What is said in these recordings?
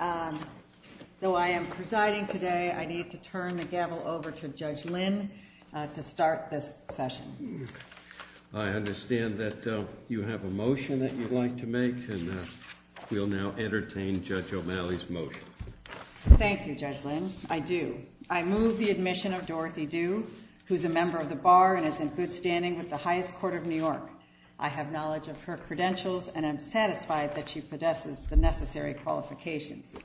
Although I am presiding today, I need to turn the gavel over to Judge Lynn to start this session. I understand that you have a motion that you'd like to make, and we'll now entertain Judge O'Malley's motion. Thank you, Judge Lynn. I do. I move the admission of Dorothy Due, who is a member of the Bar and is in good standing with the highest court of New York. I have knowledge of her credentials, and I'm satisfied that she possesses the necessary qualifications.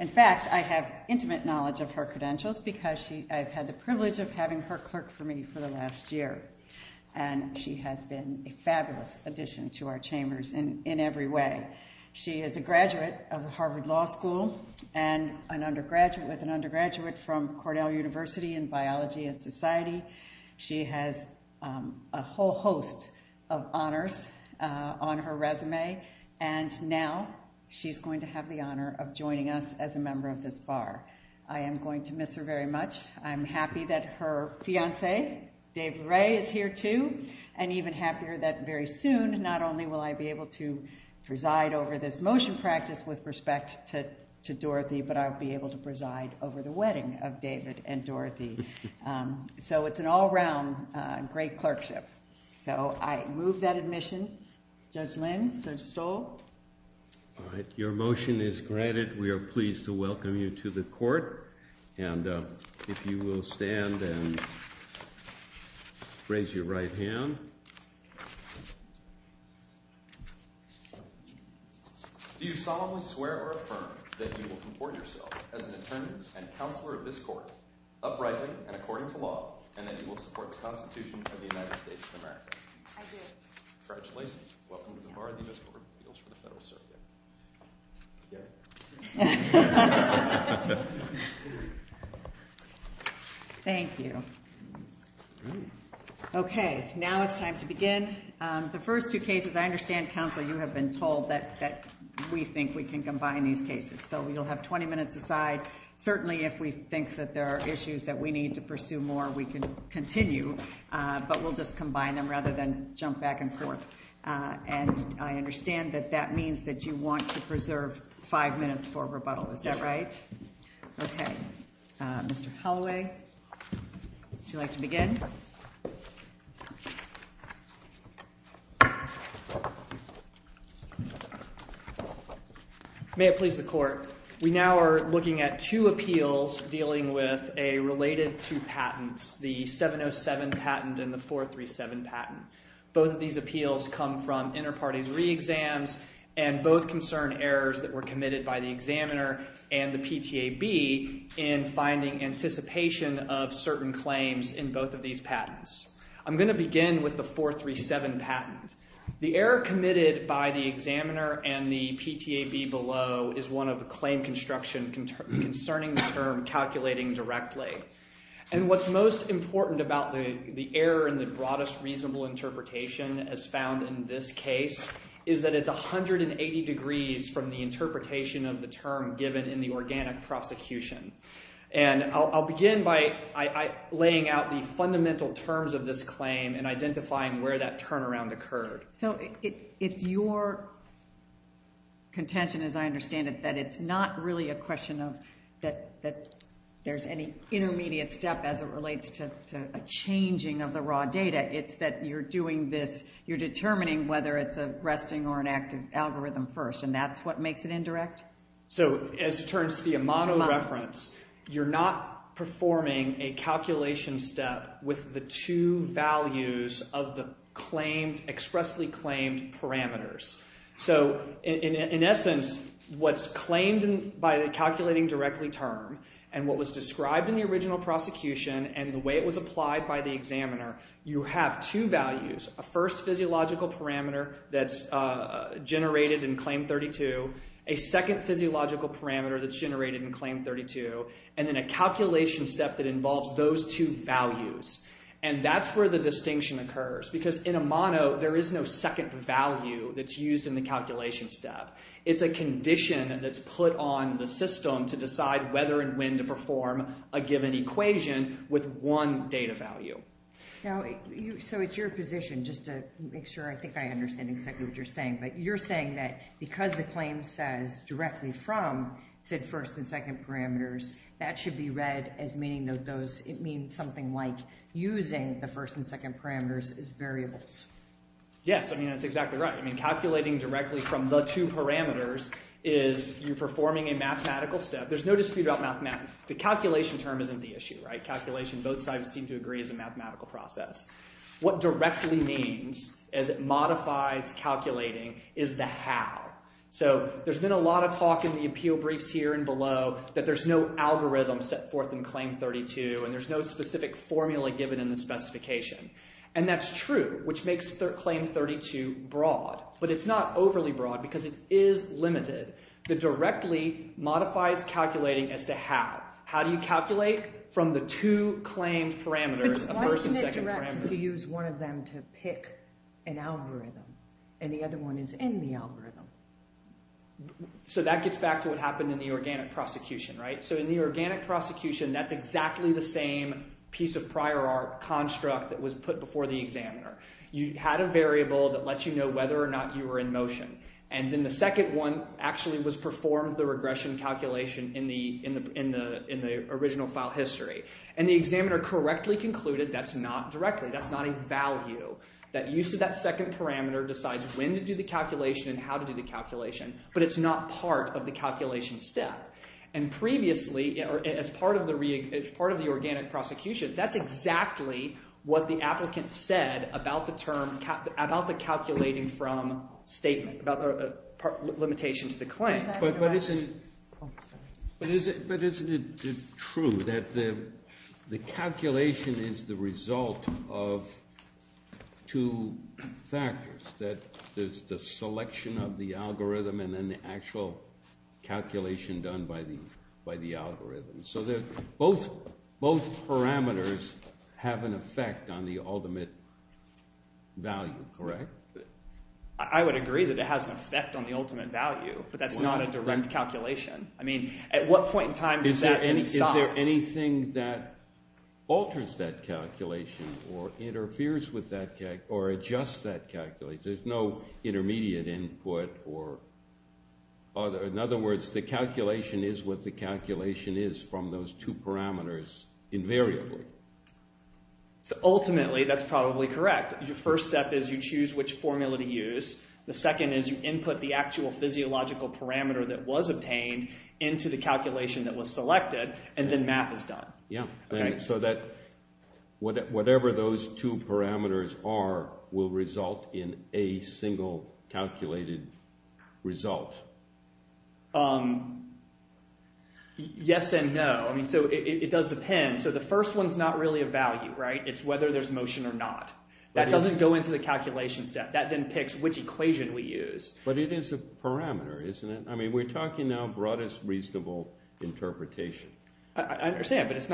In fact, I have intimate knowledge of her credentials because I've had the privilege of having her clerk for me for the last year, and she has been a fabulous addition to our chambers in every way. She is a graduate of the Harvard Law School with an undergraduate from Cornell University in biology and society. She has a whole host of honors on her resume, and now she's going to have the honor of joining us as a member of this Bar. I am going to miss her very much. I'm happy that her fiancé, Dave Ray, is here too, and even happier that very soon, not only will I be able to preside over this motion practice with respect to Dorothy, but I'll be able to preside over the wedding of David and Dorothy. So, it's an all-around great clerkship. So, I move that admission. Judge Lin, Judge Stoll? All right, your motion is granted. We are pleased to welcome you to the court, and if you will stand and raise your right hand. Do you solemnly swear or affirm that you will comport yourself as an attorney and counselor of this court, uprightly and according to law, and that you will support the Constitution of the United States of America? I do. Congratulations. Welcome to the Bar of the U.S. Court of Appeals for the Federal Circuit. You get it? Thank you. Okay, now it's time to begin. The first two cases, I understand, counsel, you have been told that we think we can combine these cases. So, you'll have 20 minutes aside. Certainly, if we think that there are issues that we need to pursue more, we can continue, but we'll just combine them rather than jump back and forth. And I understand that that means that you want to preserve five minutes for rebuttal. Is that right? Yes, Your Honor. Okay. Mr. Holloway, would you like to begin? May it please the court. We now are looking at two appeals dealing with a related to patents, the 707 patent and the 437 patent. Both of these appeals come from inter-parties re-exams and both concern errors that were committed by the examiner and the PTAB in finding anticipation of certain claims in both of these patents. I'm going to begin with the 437 patent. The error committed by the examiner and the PTAB below is one of the claim construction concerning the term calculating directly. And what's most important about the error in the broadest reasonable interpretation as found in this case is that it's 180 degrees from the interpretation of the term given in the organic prosecution. And I'll begin by laying out the fundamental terms of this claim and identifying where that turnaround occurred. So, it's your contention, as I understand it, that it's not really a question of that there's any intermediate step as it relates to a changing of the raw data. It's that you're doing this, you're determining whether it's a resting or an active algorithm first and that's what makes it indirect? So, as it turns to the Amato reference, you're not performing a calculation step with the two values of the expressly claimed parameters. So, in essence, what's claimed by the calculating directly term and what was described in the original prosecution and the way it was applied by the examiner, you have two values. A first physiological parameter that's generated in Claim 32, a second physiological parameter that's generated in Claim 32, and then a calculation step that involves those two values. And that's where the distinction occurs because in Amato, there is no second value that's used in the calculation step. It's a condition that's put on the system to decide whether and when to perform a given equation with one data value. Now, so it's your position, just to make sure I think I understand exactly what you're saying, but you're saying that because the claim says directly from SID first and second parameters, that should be read as meaning something like using the first and second parameters as variables. Yes, I mean, that's exactly right. I mean, calculating directly from the two parameters is you're performing a mathematical step. There's no dispute about mathematics. The calculation term isn't the issue, right? Calculation, both sides seem to agree, is a mathematical process. What directly means, as it modifies calculating, is the how. So there's been a lot of talk in the appeal briefs here and below that there's no algorithm set forth in Claim 32, and there's no specific formula given in the specification. And that's true, which makes Claim 32 broad. But it's not overly broad because it is limited. The directly modifies calculating as to how. How do you calculate from the two claimed parameters of first and second parameters? If you use one of them to pick an algorithm, and the other one is in the algorithm. So that gets back to what happened in the organic prosecution, right? So in the organic prosecution, that's exactly the same piece of prior art construct that was put before the examiner. You had a variable that lets you know whether or not you were in motion. And then the second one actually was performed, the regression calculation, in the original file history. And the examiner correctly concluded that's not directly, that's not a value. That use of that second parameter decides when to do the calculation and how to do the calculation. But it's not part of the calculation step. And previously, as part of the organic prosecution, that's exactly what the applicant said about the term, about the calculating from statement, about the limitation to the claim. But isn't it true that the calculation is the result of two factors, that there's the selection of the algorithm and then the actual calculation done by the algorithm? So both parameters have an effect on the ultimate value, correct? I would agree that it has an effect on the ultimate value. But that's not a direct calculation. I mean, at what point in time does that stop? Is there anything that alters that calculation or interferes with that calculation or adjusts that calculation? There's no intermediate input or other. In other words, the calculation is what the calculation is from those two parameters invariably. So ultimately, that's probably correct. Your first step is you choose which formula to use. The second is you input the actual physiological parameter that was obtained into the calculation that was selected, and then math is done. So that whatever those two parameters are will result in a single calculated result? Yes and no. I mean, so it does depend. So the first one is not really a value, right? It's whether there's motion or not. That doesn't go into the calculation step. That then picks which equation we use. But it is a parameter, isn't it? I mean, we're talking now broadest reasonable interpretation. I understand, but it's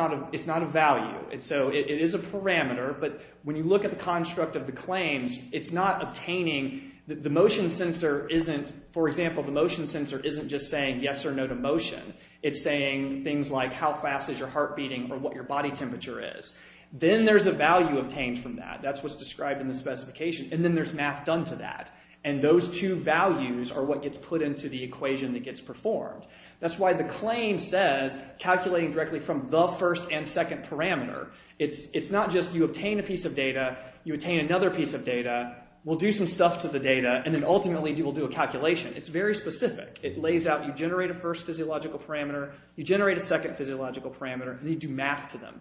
not a value. So it is a parameter, but when you look at the construct of the claims, it's not obtaining the motion sensor isn't, for example, the motion sensor isn't just saying yes or no to motion. It's saying things like how fast is your heart beating or what your body temperature is. Then there's a value obtained from that. That's what's described in the specification. And then there's math done to that. And those two values are what gets put into the equation that gets performed. That's why the claim says calculating directly from the first and second parameter. It's not just you obtain a piece of data, you obtain another piece of data, we'll do some stuff to the data, and then ultimately we'll do a calculation. It's very specific. It lays out you generate a first physiological parameter, you generate a second physiological parameter, and then you do math to them.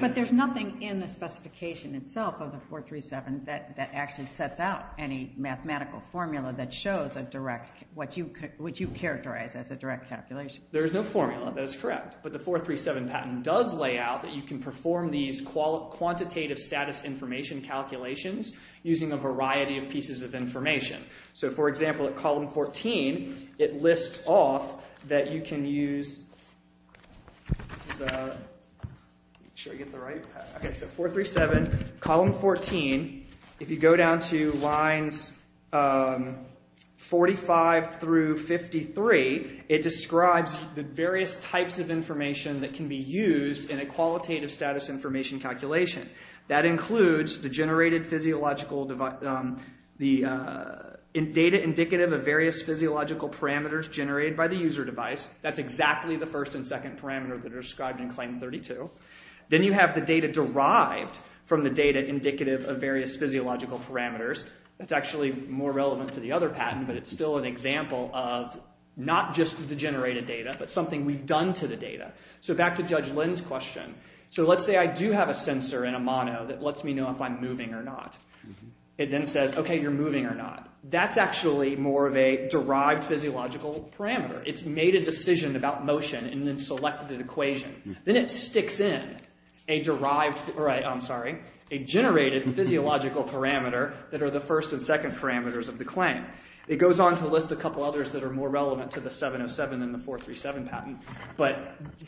But there's nothing in the specification itself of the 437 that actually sets out any mathematical formula that shows what you characterize as a direct calculation. There is no formula. That is correct. But the 437 patent does lay out that you can perform these quantitative status information calculations using a variety of pieces of information. For example, at column 14, it lists off that you can use... 437, column 14, if you go down to lines 45 through 53, it describes the various types of information that can be used in a qualitative status information calculation. That includes the data indicative of various physiological parameters generated by the user device. That's exactly the first and second parameter that are described in Claim 32. Then you have the data derived from the data indicative of various physiological parameters. That's actually more relevant to the other patent, but it's still an example of not just the generated data, but something we've done to the data. So back to Judge Lynn's question. So let's say I do have a sensor in a mono that lets me know if I'm moving or not. It then says, okay, you're moving or not. That's actually more of a derived physiological parameter. It's made a decision about motion and then selected an equation. Then it sticks in a generated physiological parameter that are the first and second parameters of the claim. It goes on to list a couple others that are more relevant to the 707 than the 437 patent.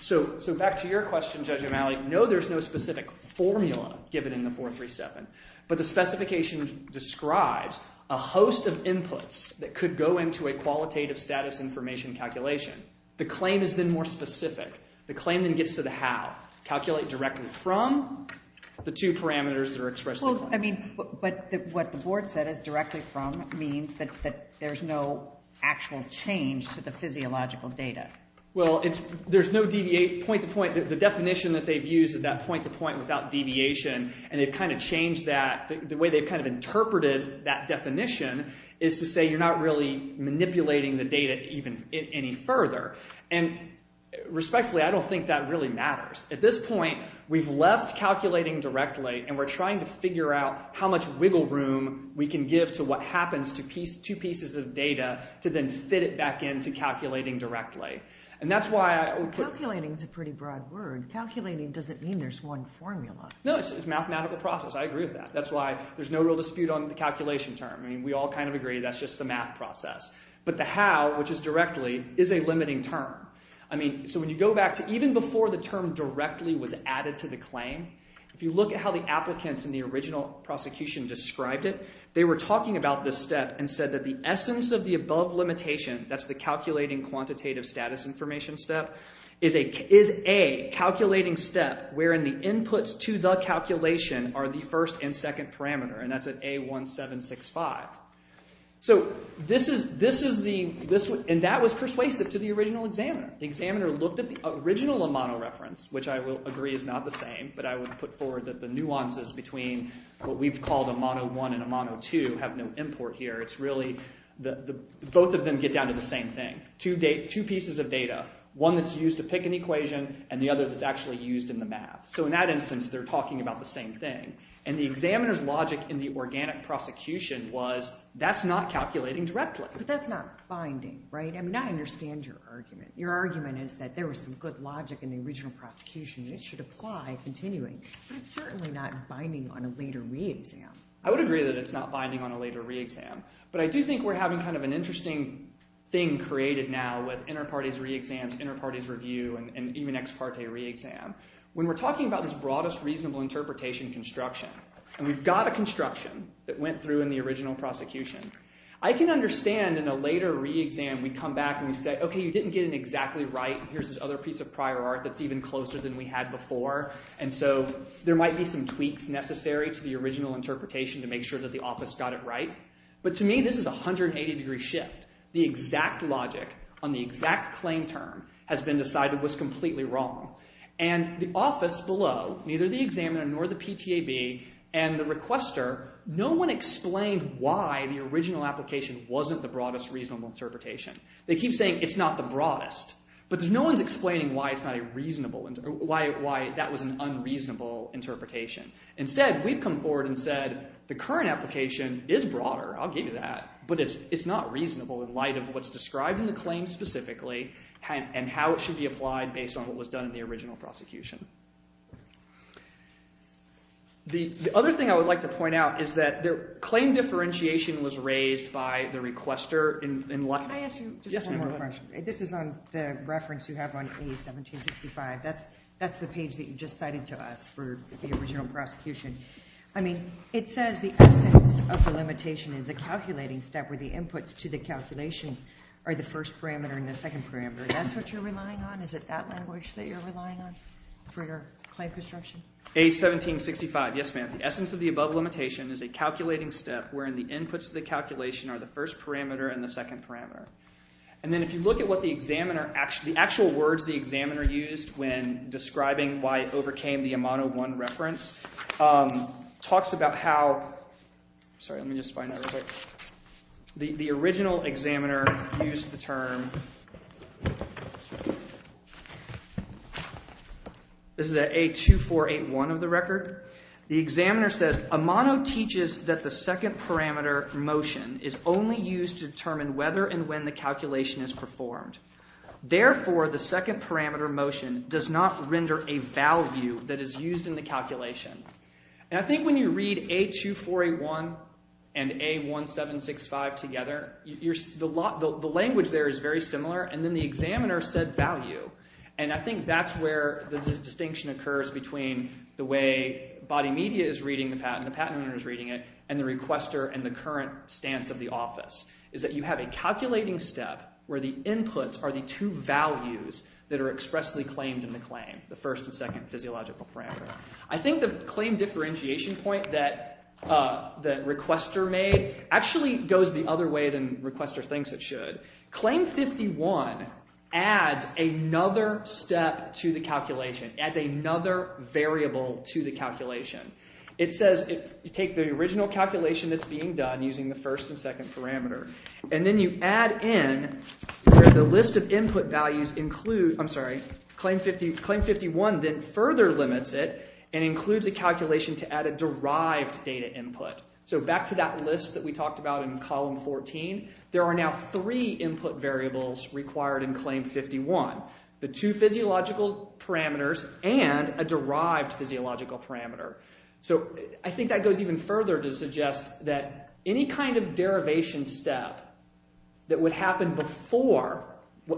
So back to your question, Judge O'Malley. No, there's no specific formula given in the 437, but the specification describes a host of inputs that could go into a qualitative status information calculation. The claim is then more specific. The claim then gets to the how. Calculate directly from the two parameters that are expressed in the claim. But what the board said is directly from means that there's no actual change to the physiological data. Well, there's no point-to-point. The definition that they've used is that point-to-point without deviation, and they've kind of changed that. The way they've kind of interpreted that definition is to say you're not really manipulating the data even any further. And respectfully, I don't think that really matters. At this point, we've left calculating directly, and we're trying to figure out how much wiggle room we can give to what happens to two pieces of data to then fit it back into calculating directly. And that's why I would put... Calculating is a pretty broad word. Calculating doesn't mean there's one formula. No, it's a mathematical process. I agree with that. That's why there's no real dispute on the calculation term. I mean, we all kind of agree that's just the math process. But the how, which is directly, is a limiting term. I mean, so when you go back to even before the term directly was added to the claim, if you look at how the applicants in the original prosecution described it, they were talking about this step and said that the essence of the above limitation, that's the calculating quantitative status information step, is a calculating step wherein the inputs to the calculation are the first and second parameter. And that's at A1765. So this is the... And that was persuasive to the original examiner. The examiner looked at the original Amano reference, which I will agree is not the same, but I would put forward that the nuances between what we've called Amano I and Amano II have no import here. It's really both of them get down to the same thing, two pieces of data, one that's used to pick an equation and the other that's actually used in the math. So in that instance, they're talking about the same thing. And the examiner's logic in the organic prosecution was that's not calculating directly. But that's not finding, right? I mean, I understand your argument. Your argument is that there was some good logic in the original prosecution and it should apply continuing. But it's certainly not binding on a later re-exam. I would agree that it's not binding on a later re-exam. But I do think we're having kind of an interesting thing created now with inter-parties re-exams, inter-parties review, and even ex parte re-exam. When we're talking about this broadest reasonable interpretation construction, and we've got a construction that went through in the original prosecution, I can understand in a later re-exam we come back and we say, OK, you didn't get it exactly right. Here's this other piece of prior art that's even closer than we had before. And so there might be some tweaks necessary to the original interpretation to make sure that the office got it right. But to me, this is a 180-degree shift. The exact logic on the exact claim term has been decided was completely wrong. And the office below, neither the examiner nor the PTAB and the requester, no one explained why the original application wasn't the broadest reasonable interpretation. They keep saying it's not the broadest. But no one's explaining why that was an unreasonable interpretation. Instead, we've come forward and said the current application is broader. I'll give you that. But it's not reasonable in light of what's described in the claim specifically and how it should be applied based on what was done in the original prosecution. The other thing I would like to point out is that the claim differentiation was raised by the requester in light of this. Can I ask you just one more question? Yes, ma'am. This is on the reference you have on A1765. That's the page that you just cited to us for the original prosecution. I mean, it says the essence of the limitation is a calculating step where the inputs to the calculation are the first parameter and the second parameter. That's what you're relying on? Is it that language that you're relying on for your claim construction? A1765. Yes, ma'am. Again, the essence of the above limitation is a calculating step wherein the inputs to the calculation are the first parameter and the second parameter. And then if you look at what the examiner – the actual words the examiner used when describing why it overcame the Amano 1 reference talks about how – sorry, let me just find that real quick. The original examiner used the term – this is at A2481 of the record. The examiner says Amano teaches that the second parameter motion is only used to determine whether and when the calculation is performed. Therefore, the second parameter motion does not render a value that is used in the calculation. And I think when you read A2481 and A1765 together, the language there is very similar, and then the examiner said value. And I think that's where the distinction occurs between the way body media is reading the patent, the patent owner is reading it, and the requester and the current stance of the office is that you have a calculating step where the inputs are the two values that are expressly claimed in the claim, the first and second physiological parameters. I think the claim differentiation point that requester made actually goes the other way than requester thinks it should. Claim 51 adds another step to the calculation, adds another variable to the calculation. It says you take the original calculation that's being done using the first and second parameter, and then you add in the list of input values – I'm sorry. Claim 51 then further limits it and includes a calculation to add a derived data input. So back to that list that we talked about in column 14. There are now three input variables required in Claim 51, the two physiological parameters and a derived physiological parameter. So I think that goes even further to suggest that any kind of derivation step that would happen before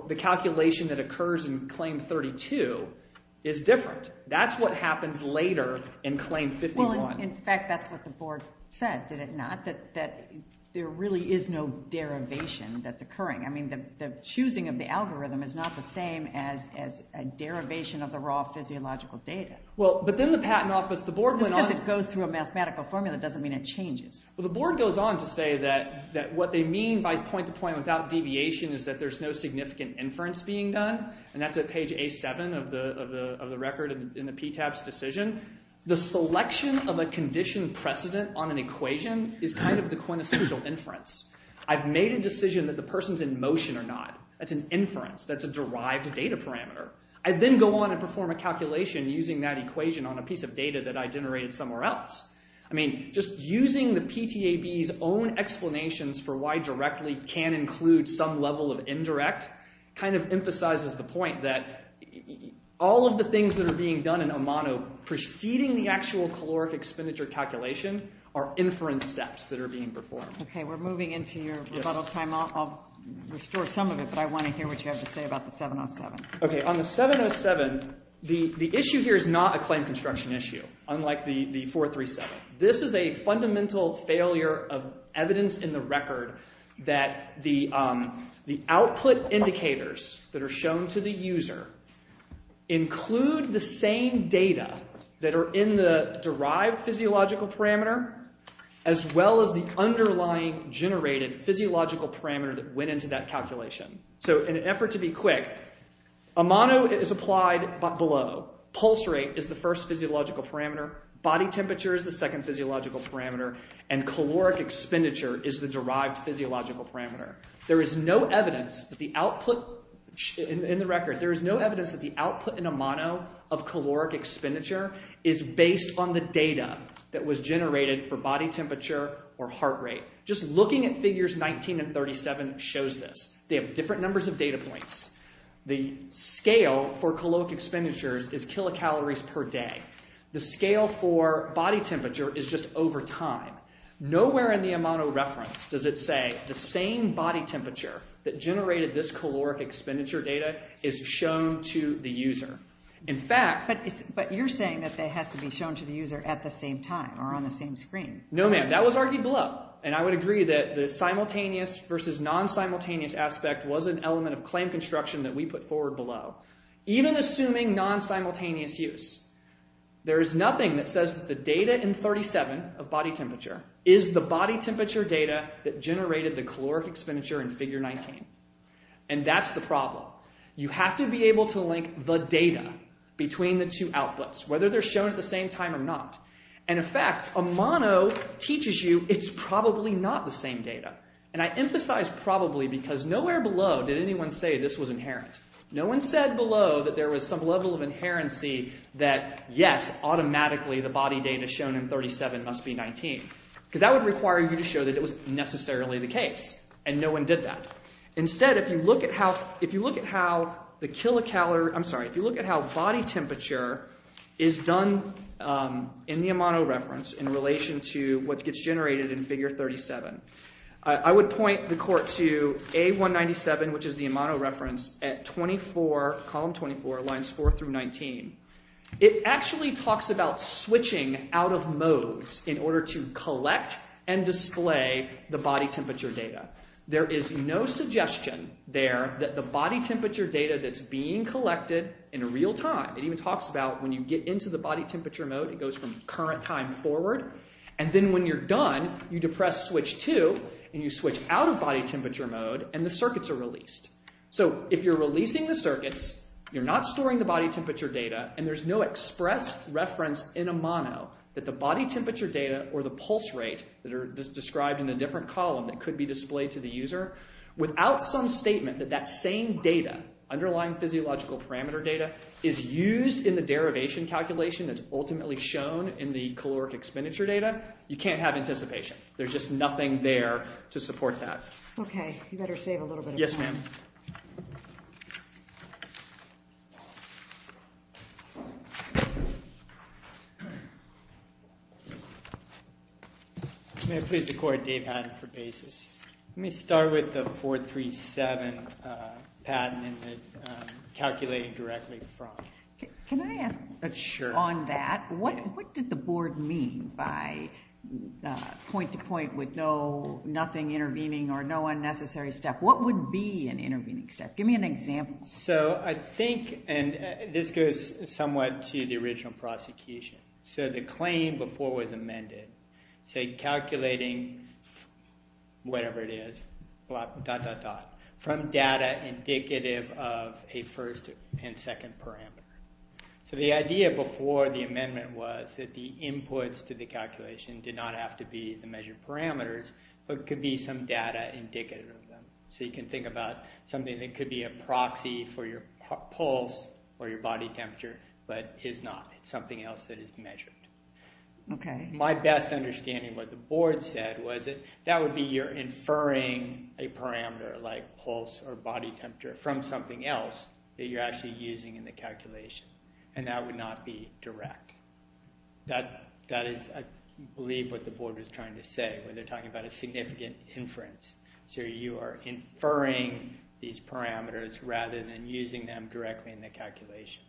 the calculation that occurs in Claim 32 is different. That's what happens later in Claim 51. Well, in fact, that's what the board said, did it not? That there really is no derivation that's occurring. I mean the choosing of the algorithm is not the same as a derivation of the raw physiological data. Well, but then the patent office – the board went on – Just because it goes through a mathematical formula doesn't mean it changes. Well, the board goes on to say that what they mean by point-to-point without deviation is that there's no significant inference being done, and that's at page A7 of the record in the PTAB's decision. The selection of a condition precedent on an equation is kind of the quintessential inference. I've made a decision that the person's in motion or not. That's an inference. That's a derived data parameter. I then go on and perform a calculation using that equation on a piece of data that I generated somewhere else. I mean just using the PTAB's own explanations for why directly can include some level of indirect kind of emphasizes the point that all of the things that are being done in Omano preceding the actual caloric expenditure calculation are inference steps that are being performed. Okay, we're moving into your rebuttal time. I'll restore some of it, but I want to hear what you have to say about the 707. Okay, on the 707, the issue here is not a claim construction issue, unlike the 437. This is a fundamental failure of evidence in the record that the output indicators that are shown to the user include the same data that are in the derived physiological parameter as well as the underlying generated physiological parameter that went into that calculation. So in an effort to be quick, Omano is applied below. Pulse rate is the first physiological parameter. Body temperature is the second physiological parameter, and caloric expenditure is the derived physiological parameter. There is no evidence that the output in the record, there is no evidence that the output in Omano of caloric expenditure is based on the data that was generated for body temperature or heart rate. Just looking at figures 19 and 37 shows this. They have different numbers of data points. The scale for caloric expenditures is kilocalories per day. The scale for body temperature is just over time. Nowhere in the Omano reference does it say the same body temperature that generated this caloric expenditure data is shown to the user. In fact... But you're saying that it has to be shown to the user at the same time or on the same screen. No, ma'am, that was argued below, and I would agree that the simultaneous versus non-simultaneous aspect was an element of claim construction that we put forward below. Even assuming non-simultaneous use, there is nothing that says that the data in 37 of body temperature is the body temperature data that generated the caloric expenditure in figure 19. And that's the problem. You have to be able to link the data between the two outputs, whether they're shown at the same time or not. And in fact, Omano teaches you it's probably not the same data. And I emphasize probably because nowhere below did anyone say this was inherent. No one said below that there was some level of inherency that, yes, automatically the body data shown in 37 must be 19. Because that would require you to show that it was necessarily the case, and no one did that. Instead, if you look at how the kilocalorie... I'm sorry, if you look at how body temperature is done in the Omano reference in relation to what gets generated in figure 37, I would point the court to A197, which is the Omano reference, at 24, column 24, lines 4 through 19. It actually talks about switching out of modes in order to collect and display the body temperature data. There is no suggestion there that the body temperature data that's being collected in real time. It even talks about when you get into the body temperature mode, it goes from current time forward. And then when you're done, you depress switch 2, and you switch out of body temperature mode, and the circuits are released. So if you're releasing the circuits, you're not storing the body temperature data, and there's no express reference in Omano that the body temperature data or the pulse rate that are described in a different column that could be displayed to the user, without some statement that that same data, underlying physiological parameter data, is used in the derivation calculation that's ultimately shown in the caloric expenditure data, you can't have anticipation. There's just nothing there to support that. Okay. You better save a little bit of time. Yes, ma'am. May I please record Dave Haddon for basis? Let me start with the 437 patent that I'm calculating directly from. Can I ask on that, what did the board mean by point-to-point with nothing intervening or no unnecessary step? What would be an intervening step? Give me an example. So I think, and this goes somewhat to the original prosecution, so the claim before it was amended, say calculating whatever it is, dot, dot, dot, from data indicative of a first and second parameter. So the idea before the amendment was that the inputs to the calculation did not have to be the measured parameters, but could be some data indicative of them. So you can think about something that could be a proxy for your pulse or your body temperature, but is not. It's something else that is measured. Okay. My best understanding of what the board said was that would be you're inferring a parameter like pulse or body temperature from something else that you're actually using in the calculation, and that would not be direct. That is, I believe, what the board was trying to say when they're talking about a significant inference. So you are inferring these parameters rather than using them directly in the calculation.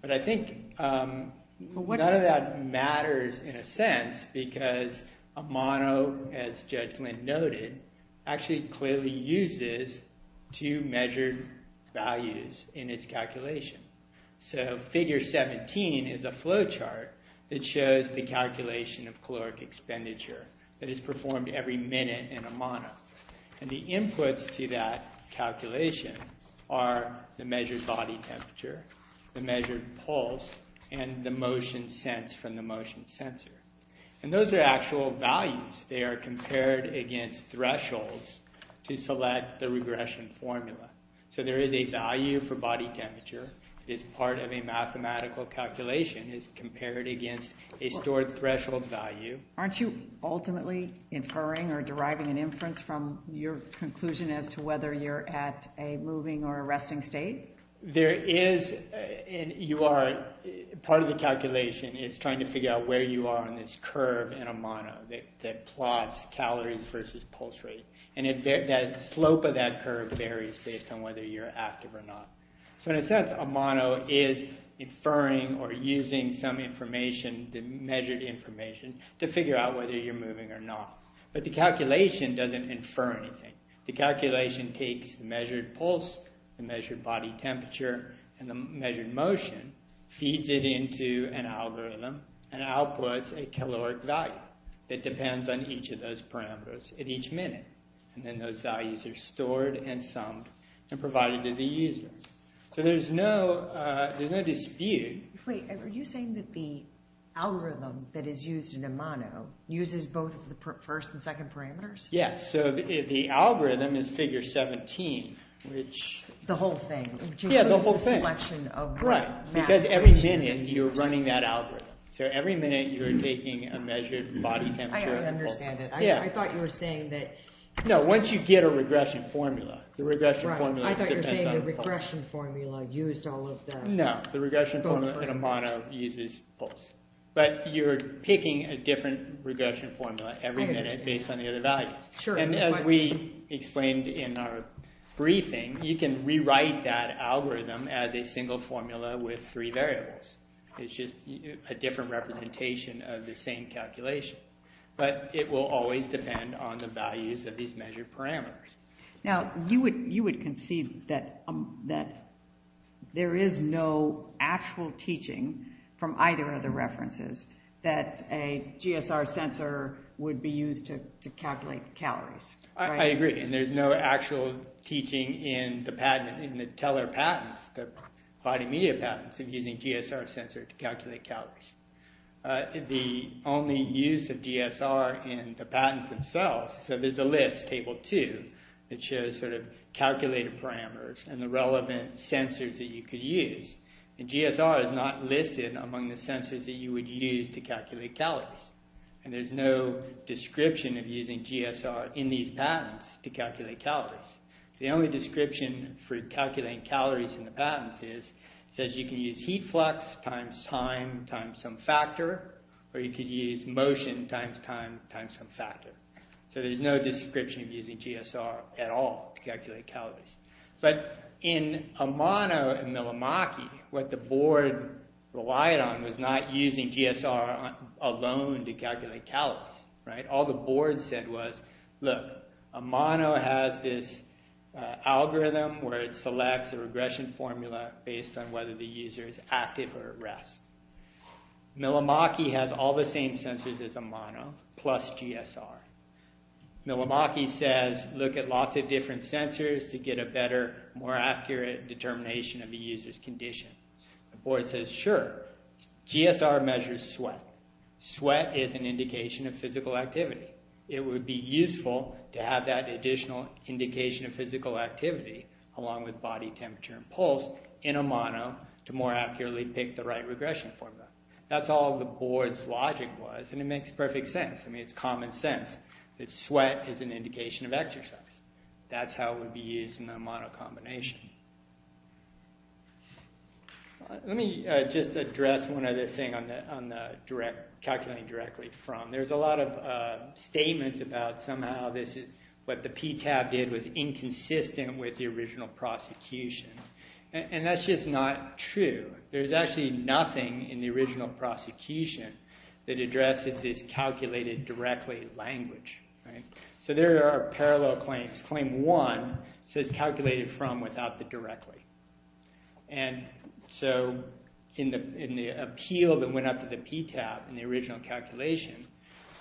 But I think none of that matters in a sense because Amano, as Judge Lynn noted, actually clearly uses two measured values in its calculation. So figure 17 is a flowchart that shows the calculation of caloric expenditure that is performed every minute in Amano. And the inputs to that calculation are the measured body temperature, the measured pulse, and the motion sense from the motion sensor. And those are actual values. They are compared against thresholds to select the regression formula. So there is a value for body temperature. It's part of a mathematical calculation. It's compared against a stored threshold value. Aren't you ultimately inferring or deriving an inference from your conclusion as to whether you're at a moving or a resting state? Part of the calculation is trying to figure out where you are in this curve in Amano that plots calories versus pulse rate. And the slope of that curve varies based on whether you're active or not. So in a sense, Amano is inferring or using some information, the measured information, to figure out whether you're moving or not. But the calculation doesn't infer anything. The calculation takes the measured pulse, the measured body temperature, and the measured motion, feeds it into an algorithm, and outputs a caloric value that depends on each of those parameters at each minute. And then those values are stored and summed and provided to the user. So there's no dispute. Wait, are you saying that the algorithm that is used in Amano uses both the first and second parameters? Yes, so the algorithm is figure 17. The whole thing? Yeah, the whole thing. Because every minute you're running that algorithm. So every minute you're taking a measured body temperature and pulse. I don't understand it. I thought you were saying that... No, once you get a regression formula. I thought you were saying the regression formula used all of the... No, the regression formula in Amano uses pulse. But you're picking a different regression formula every minute based on the other values. And as we explained in our briefing, you can rewrite that algorithm as a single formula with three variables. It's just a different representation of the same calculation. But it will always depend on the values of these measured parameters. Now, you would concede that there is no actual teaching from either of the references that a GSR sensor would be used to calculate calories. I agree, and there's no actual teaching in the Teller patents, the body media patents, of using a GSR sensor to calculate calories. The only use of GSR in the patents themselves... So there's a list, Table 2, that shows sort of calculated parameters and the relevant sensors that you could use. And GSR is not listed among the sensors that you would use to calculate calories. And there's no description of using GSR in these patents to calculate calories. The only description for calculating calories in the patents is, it says you can use heat flux times time times some factor, or you could use motion times time times some factor. So there's no description of using GSR at all to calculate calories. But in Amano and Milimaki, what the board relied on was not using GSR alone to calculate calories. All the board said was, look, Amano has this algorithm where it selects a regression formula based on whether the user is active or at rest. Milimaki has all the same sensors as Amano, plus GSR. Milimaki says, look at lots of different sensors to get a better, more accurate determination of the user's condition. The board says, sure. GSR measures sweat. Sweat is an indication of physical activity. It would be useful to have that additional indication of physical activity, along with body temperature and pulse, in Amano to more accurately pick the right regression formula. That's all the board's logic was, and it makes perfect sense. I mean, it's common sense that sweat is an indication of exercise. That's how it would be used in the Amano combination. Let me just address one other thing on calculating directly from. There's a lot of statements about somehow what the PTAB did was inconsistent with the original prosecution. And that's just not true. There's actually nothing in the original prosecution that addresses this calculated directly language. So there are parallel claims. Claim one says calculated from without the directly. And so in the appeal that went up to the PTAB in the original calculation,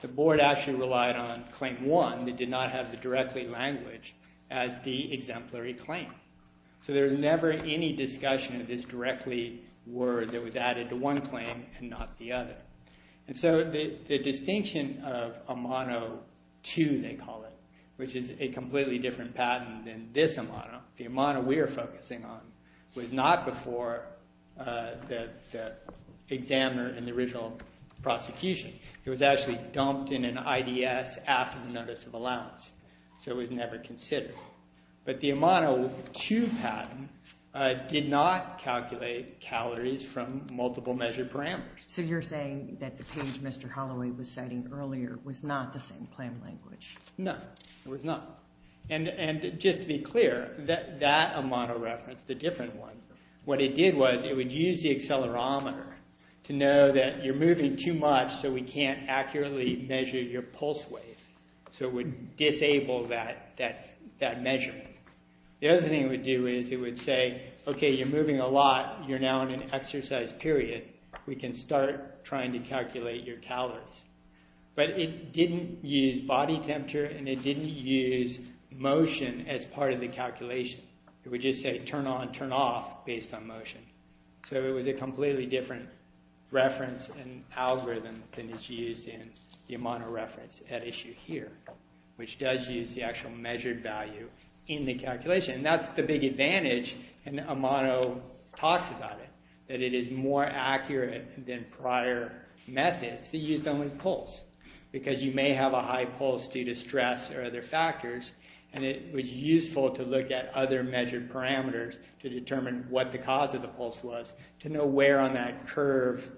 the board actually relied on claim one that did not have the directly language as the exemplary claim. So there was never any discussion of this directly word that was added to one claim and not the other. And so the distinction of Amano 2, they call it, which is a completely different patent than this Amano, the Amano we are focusing on, was not before the examiner in the original prosecution. It was actually dumped in an IDS after the notice of allowance, so it was never considered. But the Amano 2 patent did not calculate calories from multiple measure parameters. So you're saying that the page Mr. Holloway was citing earlier was not the same claim language. No, it was not. And just to be clear, that Amano reference, the different one, what it did was it would use the accelerometer to know that you're moving too much so we can't accurately measure your pulse wave. So it would disable that measurement. The other thing it would do is it would say, OK, you're moving a lot. You're now in an exercise period. We can start trying to calculate your calories. But it didn't use body temperature and it didn't use motion as part of the calculation. It would just say turn on, turn off based on motion. So it was a completely different reference and algorithm than is used in the Amano reference at issue here, which does use the actual measured value in the calculation. And that's the big advantage, and Amano talks about it, that it is more accurate than prior methods that used only pulse because you may have a high pulse due to stress or other factors and it was useful to look at other measured parameters to determine what the cause of the pulse was to know where on that curve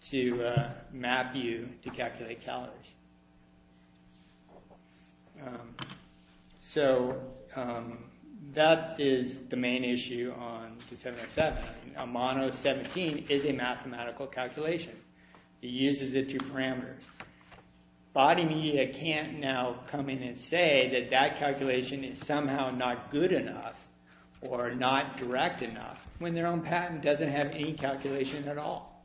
to map you to calculate calories. So that is the main issue on 707. Amano 17 is a mathematical calculation. It uses the two parameters. Body media can't now come in and say that that calculation is somehow not good enough or not direct enough. When their own patent doesn't have any calculation at all.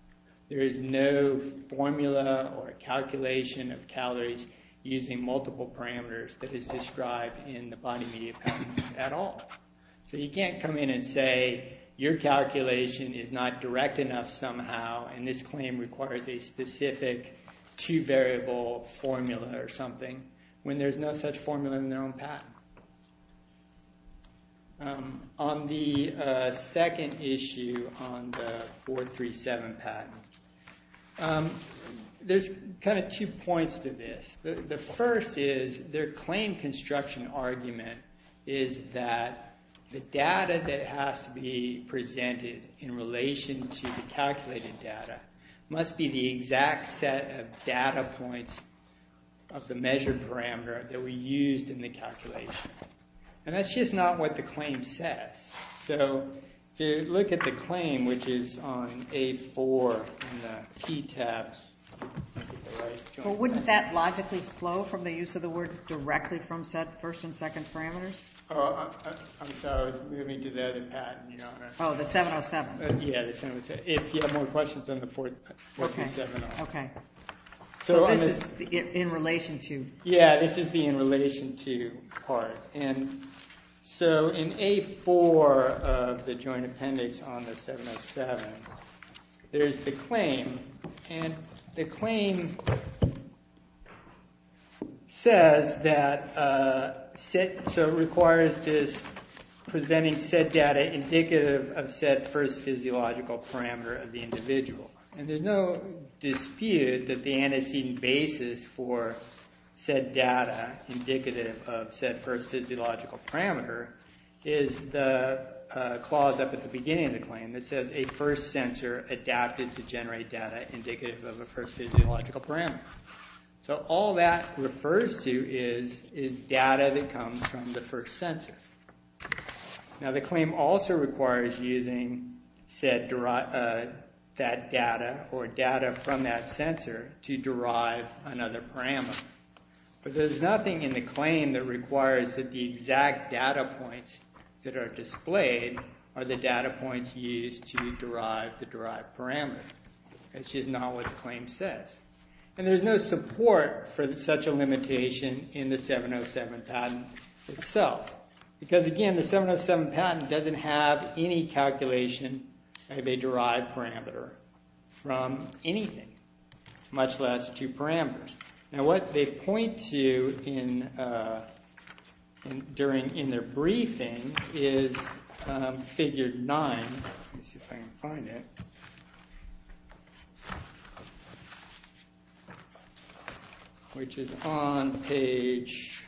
There is no formula or calculation of calories using multiple parameters that is described in the body media patent at all. So you can't come in and say your calculation is not direct enough somehow and this claim requires a specific two-variable formula or something when there's no such formula in their own patent. On the second issue on the 437 patent, there's kind of two points to this. The first is their claim construction argument is that the data that has to be presented in relation to the calculated data must be the exact set of data points of the measured parameter that we used in the calculation. And that's just not what the claim says. So if you look at the claim which is on A4 in the P tabs. But wouldn't that logically flow from the use of the word directly from set first and second parameters? I'm sorry. I was moving to the other patent. Oh, the 707. Yeah, the 707. If you have more questions on the 437. OK. So this is in relation to? Yeah, this is the in relation to part. And so in A4 of the joint appendix on the 707, there's the claim. And the claim says that it requires this presenting said data indicative of said first physiological parameter of the individual. And there's no dispute that the antecedent basis for said data indicative of said first physiological parameter is the clause up at the beginning of the claim that says, a first sensor adapted to generate data indicative of a first physiological parameter. So all that refers to is data that comes from the first sensor. Now, the claim also requires using said data or data from that sensor to derive another parameter. But there's nothing in the claim that requires that the exact data points that are displayed are the data points used to derive the derived parameter. That's just not what the claim says. And there's no support for such a limitation in the 707 patent itself. Because again, the 707 patent doesn't have any calculation of a derived parameter from anything, much less two parameters. Now, what they point to in their briefing is figure 9. Let me see if I can find it. Which is on page,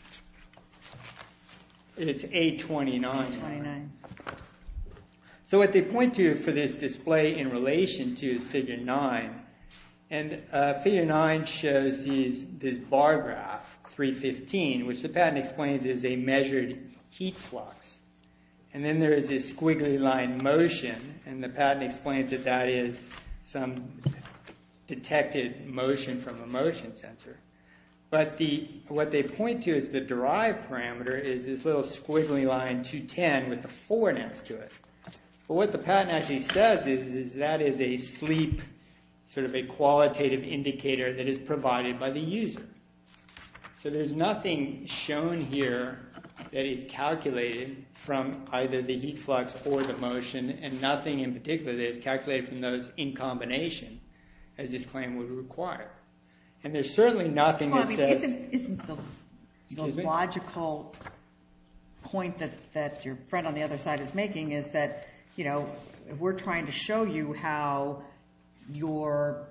it's 829. 829. So what they point to for this display in relation to is figure 9. And figure 9 shows this bar graph, 315, which the patent explains is a measured heat flux. And then there is this squiggly line motion. And the patent explains that that is some detected motion from a motion sensor. But what they point to as the derived parameter is this little squiggly line, 210, with a 4 next to it. But what the patent actually says is that is a sleep, sort of a qualitative indicator that is provided by the user. So there's nothing shown here that is calculated from either the heat flux or the motion. And nothing in particular that is calculated from those in combination, as this claim would require. And there's certainly nothing that says. Isn't the logical point that your friend on the other side is making is that we're trying to show you how your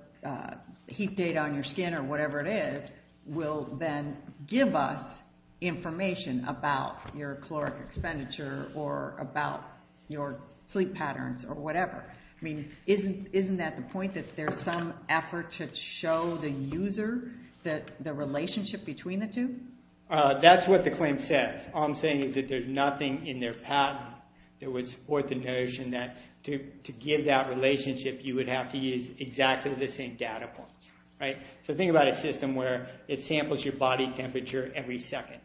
heat data on your skin or whatever it is will then give us information about your caloric expenditure or about your sleep patterns or whatever? I mean, isn't that the point that there's some effort to show the user the relationship between the two? That's what the claim says. All I'm saying is that there's nothing in their patent that would support the notion that to give that relationship, you would have to use exactly the same data points. So think about a system where it samples your body temperature every second.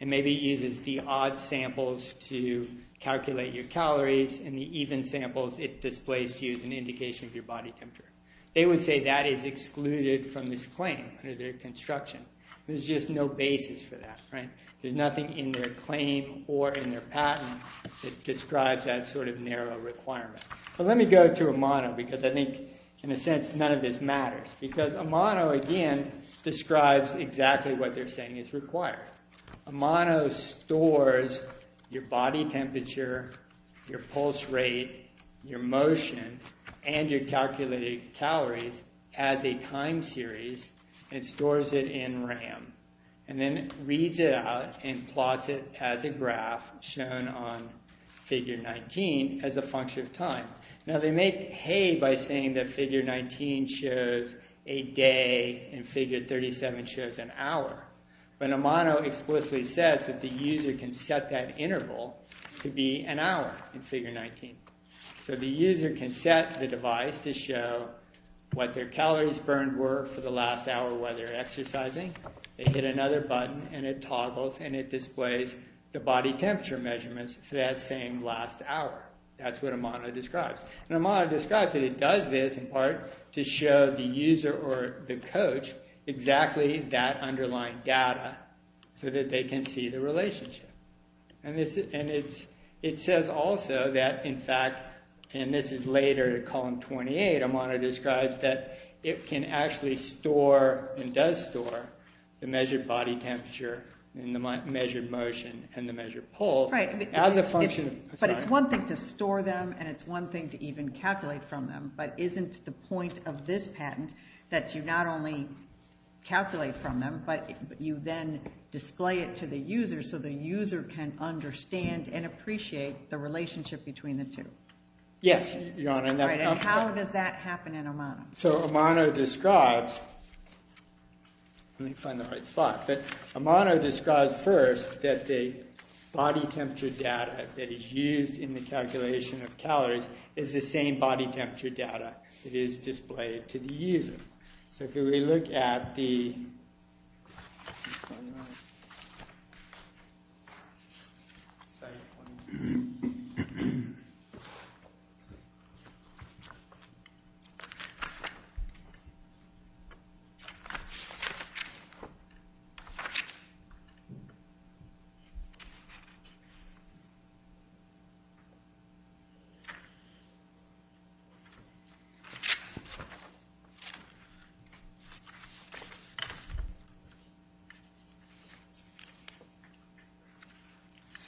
And maybe it uses the odd samples to calculate your calories. And the even samples it displays to you as an indication of your body temperature. They would say that is excluded from this claim under their construction. There's just no basis for that. There's nothing in their claim or in their patent that describes that sort of narrow requirement. But let me go to Amano, because I think, in a sense, none of this matters. Because Amano, again, describes exactly what they're saying is required. Amano stores your body temperature, your pulse rate, your motion, and your calculated calories as a time series. It stores it in RAM. And then reads it out and plots it as a graph shown on figure 19 as a function of time. Now, they make hay by saying that figure 19 shows a day and figure 37 shows an hour. But Amano explicitly says that the user can set that interval to be an hour in figure 19. So the user can set the device to show what their calories burned were for the last hour while they're exercising. They hit another button and it toggles and it displays the body temperature measurements for that same last hour. That's what Amano describes. And Amano describes it. And it does this, in part, to show the user or the coach exactly that underlying data so that they can see the relationship. And it says also that, in fact, and this is later in column 28, Amano describes that it can actually store and does store the measured body temperature and the measured motion and the measured pulse as a function of time. But it's one thing to store them and it's one thing to even calculate from them. But isn't the point of this patent that you not only calculate from them, but you then display it to the user so the user can understand and appreciate the relationship between the two? Yes, Your Honor. And how does that happen in Amano? So Amano describes, let me find the right spot, but Amano describes first that the body temperature data that in the calculation of calories is the same body temperature data that is displayed to the user. So if we look at the site one.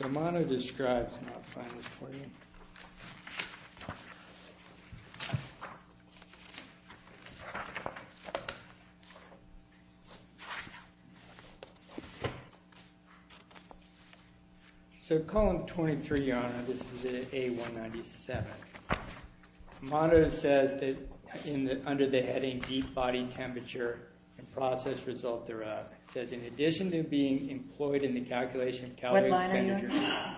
So Amano describes, and I'll find this for you. So column 23, Your Honor, this is the A197. Amano says that under the heading deep body temperature and process result thereof. It says in addition to being employed in the calculation of caloric expenditure. What line are you on?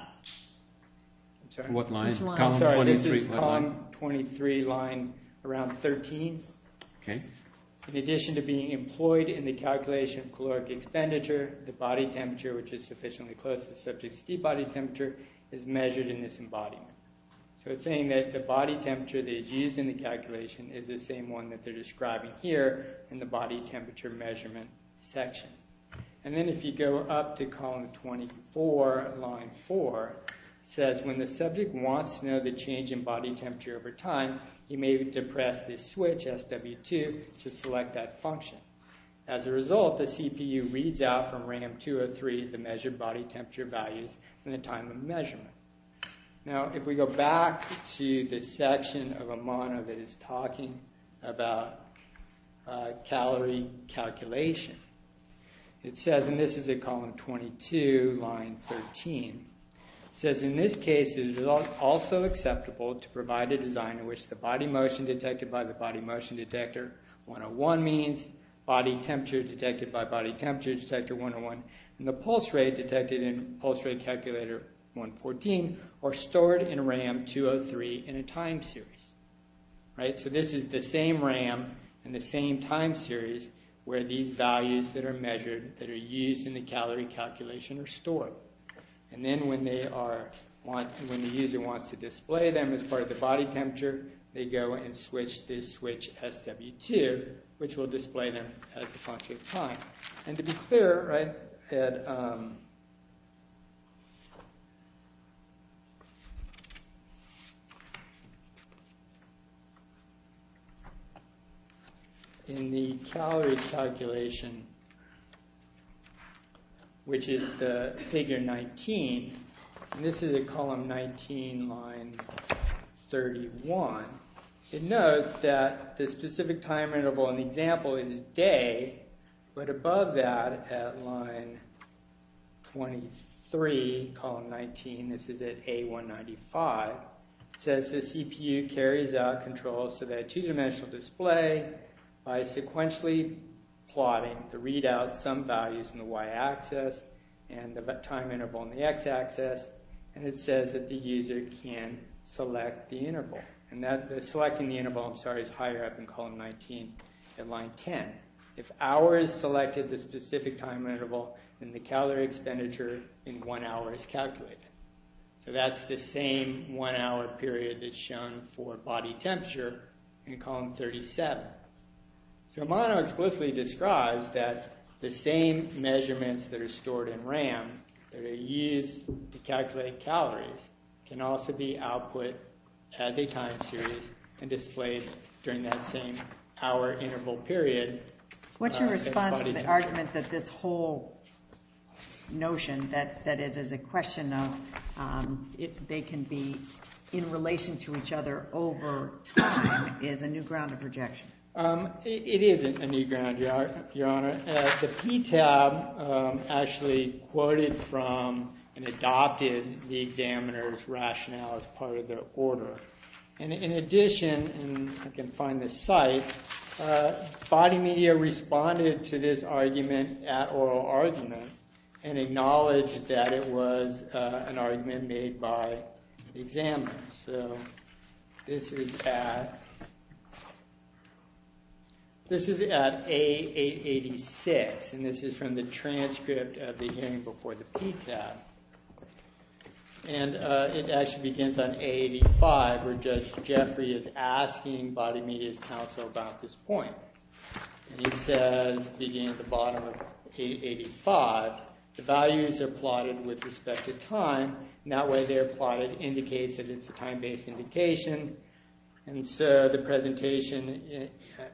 I'm sorry. What line? Which line? I'm sorry, this is column 23, line around 13. OK. In addition to being employed in the calculation of caloric expenditure, the body temperature, which is sufficiently close to the subject's deep body temperature, is measured in this embodiment. So it's saying that the body temperature that is used in the calculation is the same one that they're describing here in the body temperature measurement section. And then if you go up to column 24, line 4, it says when the subject wants to know the change in body temperature over time, you may depress the switch SW2 to select that function. As a result, the CPU reads out from RAM 203 the measured body temperature values and the time of measurement. Now, if we go back to the section of Amano that is talking about calorie calculation, it says, and this is in column 22, line 13, it says in this case it is also acceptable to provide a design in which the body motion detected by the body motion detector 101 means body temperature detected by body temperature detector 101, and the pulse rate detected in pulse rate calculator 114 are stored in RAM 203 in a time series. So this is the same RAM in the same time series where these values that are measured that are used in the calorie calculation are stored. And then when the user wants to display them as part of the body temperature, they go and switch this switch SW2, which will display them as a function of time. And to be clear, in the calorie calculation, which is the figure 19, and this is in column 19, line 31, it notes that the specific time interval in the example is day, but above that at line 23, column 19, this is at A195, it says the CPU carries out controls to that two-dimensional display by sequentially plotting the readout sum values in the y-axis and the time interval in the x-axis, and it says that the user can select the interval. And selecting the interval, I'm sorry, is higher up in column 19 at line 10. If hours selected the specific time interval, then the calorie expenditure in one hour is calculated. So that's the same one hour period that's shown for body temperature in column 37. So Amano explicitly describes that the same measurements that are stored in RAM that are used to calculate calories can also be output as a time series and displayed during that same hour interval period. What's your response to the argument that this whole notion that it is a question of they can be in relation to each other over time is a new ground of projection? It isn't a new ground, Your Honor. The PTAB actually quoted from and adopted in the examiner's rationale as part of their order. And in addition, and I can find this site, body media responded to this argument at oral argument and acknowledged that it was an argument made by the examiner. So this is at A886, and this is from the transcript of the hearing before the PTAB. And it actually begins on A85, where Judge Jeffrey is asking body media's counsel about this point. And he says, beginning at the bottom of A85, the values are plotted with respect to time, and that way they're plotted indicates that it's a time-based indication. And so the presentation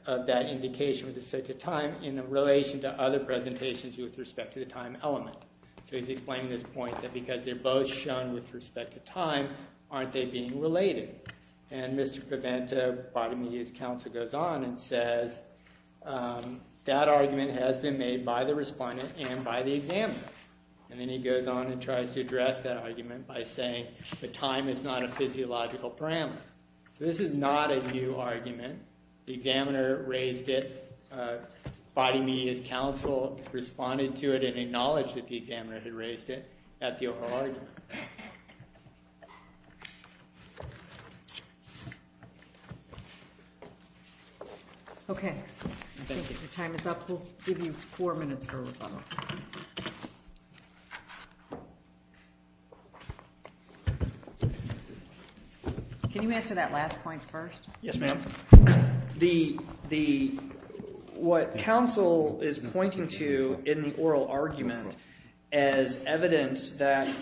of that indication with respect to time in relation to other presentations with respect to the time element. So he's explaining this point that because they're both shown with respect to time, aren't they being related? And Mr. Preventa, body media's counsel, goes on and says that argument has been made by the respondent and by the examiner. And then he goes on and tries to address that argument by saying that time is not a physiological parameter. So this is not a new argument. The examiner raised it. Body media's counsel responded to it and acknowledged that the examiner had raised it at the overall argument. OK. Thank you. Your time is up. We'll give you four minutes for rebuttal. Can you answer that last point first? Yes, ma'am. The what counsel is pointing to in the oral argument as evidence that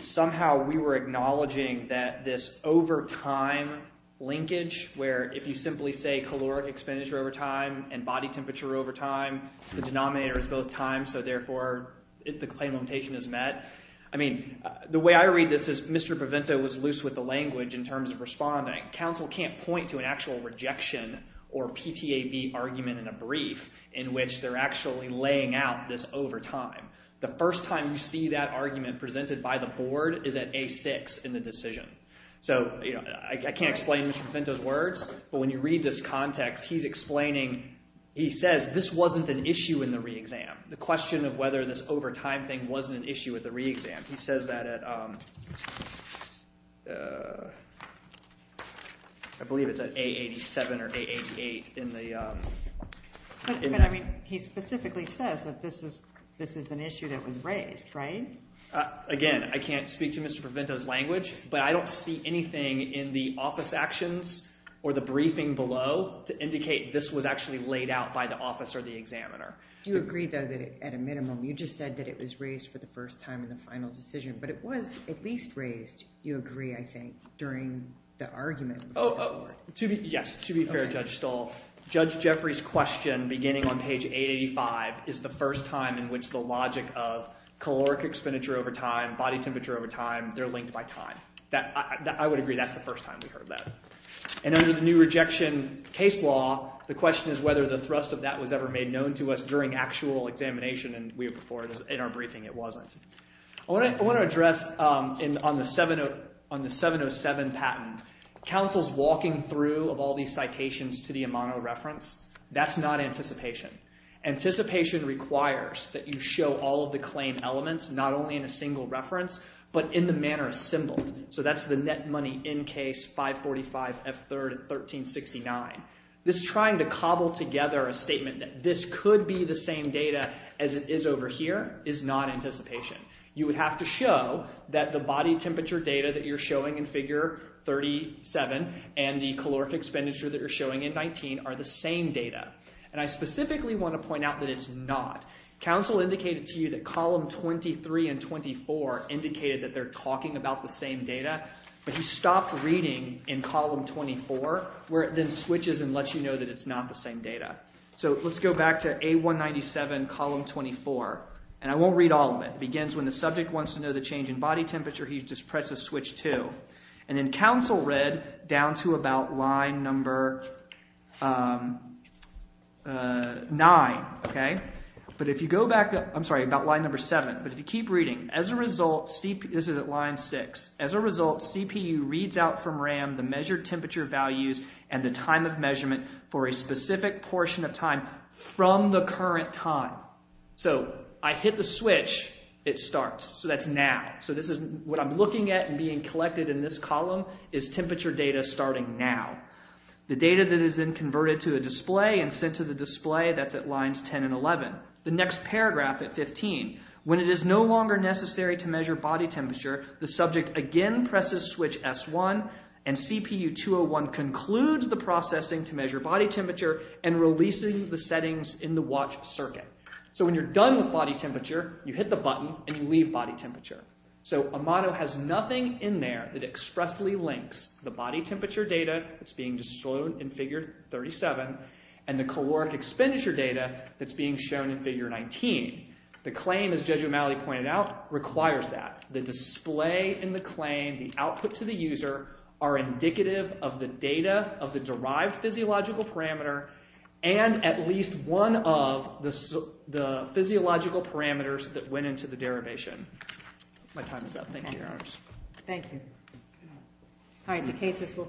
somehow we were acknowledging that this over time linkage, where if you simply say caloric expenditure over time and body temperature over time, the denominator is both time. So therefore, the claim limitation is met. I mean, the way I read this is Mr. Preventa was loose with the language in terms of responding. Counsel can't point to an actual rejection or PTAB argument in a brief in which they're actually laying out this over time. The first time you see that argument presented by the board is at A6 in the decision. So I can't explain Mr. Preventa's words. But when you read this context, he's explaining, he says this wasn't an issue in the re-exam, the question of whether this over time thing wasn't an issue with the re-exam. He says that at, I believe it's at A87 or A88 in the. I mean, he specifically says that this is an issue that was raised, right? Again, I can't speak to Mr. Preventa's language. But I don't see anything in the office actions or the briefing below to indicate this was actually laid out by the office or the examiner. Do you agree, though, that at a minimum, you just said that it was raised for the first time in the final decision? But it was at least raised, you agree, I think, during the argument. Oh, yes. To be fair, Judge Stahl, Judge Jeffrey's question, beginning on page 885, is the first time in which the logic of caloric expenditure over time, body temperature over time, they're linked by time. I would agree that's the first time we heard that. And under the new rejection case law, the question is whether the thrust of that was ever made known to us during actual examination. And we reported in our briefing it wasn't. I want to address, on the 707 patent, counsel's walking through of all these citations to the amano reference, that's not anticipation. Anticipation requires that you show all of the claim elements, not only in a single reference, but in the manner assembled. So that's the net money in case 545 F3rd at 1369. This is trying to cobble together a statement that this could be the same data as it is over here is not anticipation. You would have to show that the body temperature data that you're showing in figure 37 and the caloric expenditure that you're showing in 19 are the same data. And I specifically want to point out that it's not. Counsel indicated to you that column 23 and 24 indicated that they're talking about the same data. But he stopped reading in column 24, where it then switches and lets you know that it's not the same data. So let's go back to A197, column 24. And I won't read all of it. It begins, when the subject wants to know the change in body temperature, he just presses switch 2. And then counsel read down to about line number 9. But if you go back up, I'm sorry, about line number 7. But if you keep reading, as a result, this is at line 6. As a result, CPU reads out from RAM the measured temperature values and the time of measurement for a specific portion of time from the current time. So I hit the switch. It starts. So that's now. So what I'm looking at and being collected in this column is temperature data starting now. The data that is then converted to a display and sent to the display, that's at lines 10 and 11. The next paragraph at 15, when it is no longer necessary to measure body temperature, the subject again presses switch S1. And CPU 201 concludes the processing to measure body temperature and releasing the settings in the watch circuit. So when you're done with body temperature, you hit the button and you leave body temperature. So Amado has nothing in there that expressly links the body temperature data that's being disclosed in figure 37 and the caloric expenditure data that's being shown in figure 19. The claim, as Judge O'Malley pointed out, requires that. The display in the claim, the output to the user, are indicative of the data of the derived physiological parameter and at least one of the physiological parameters that went into the derivation. My time is up. Thank you, Your Honors. Thank you. All right, the cases will.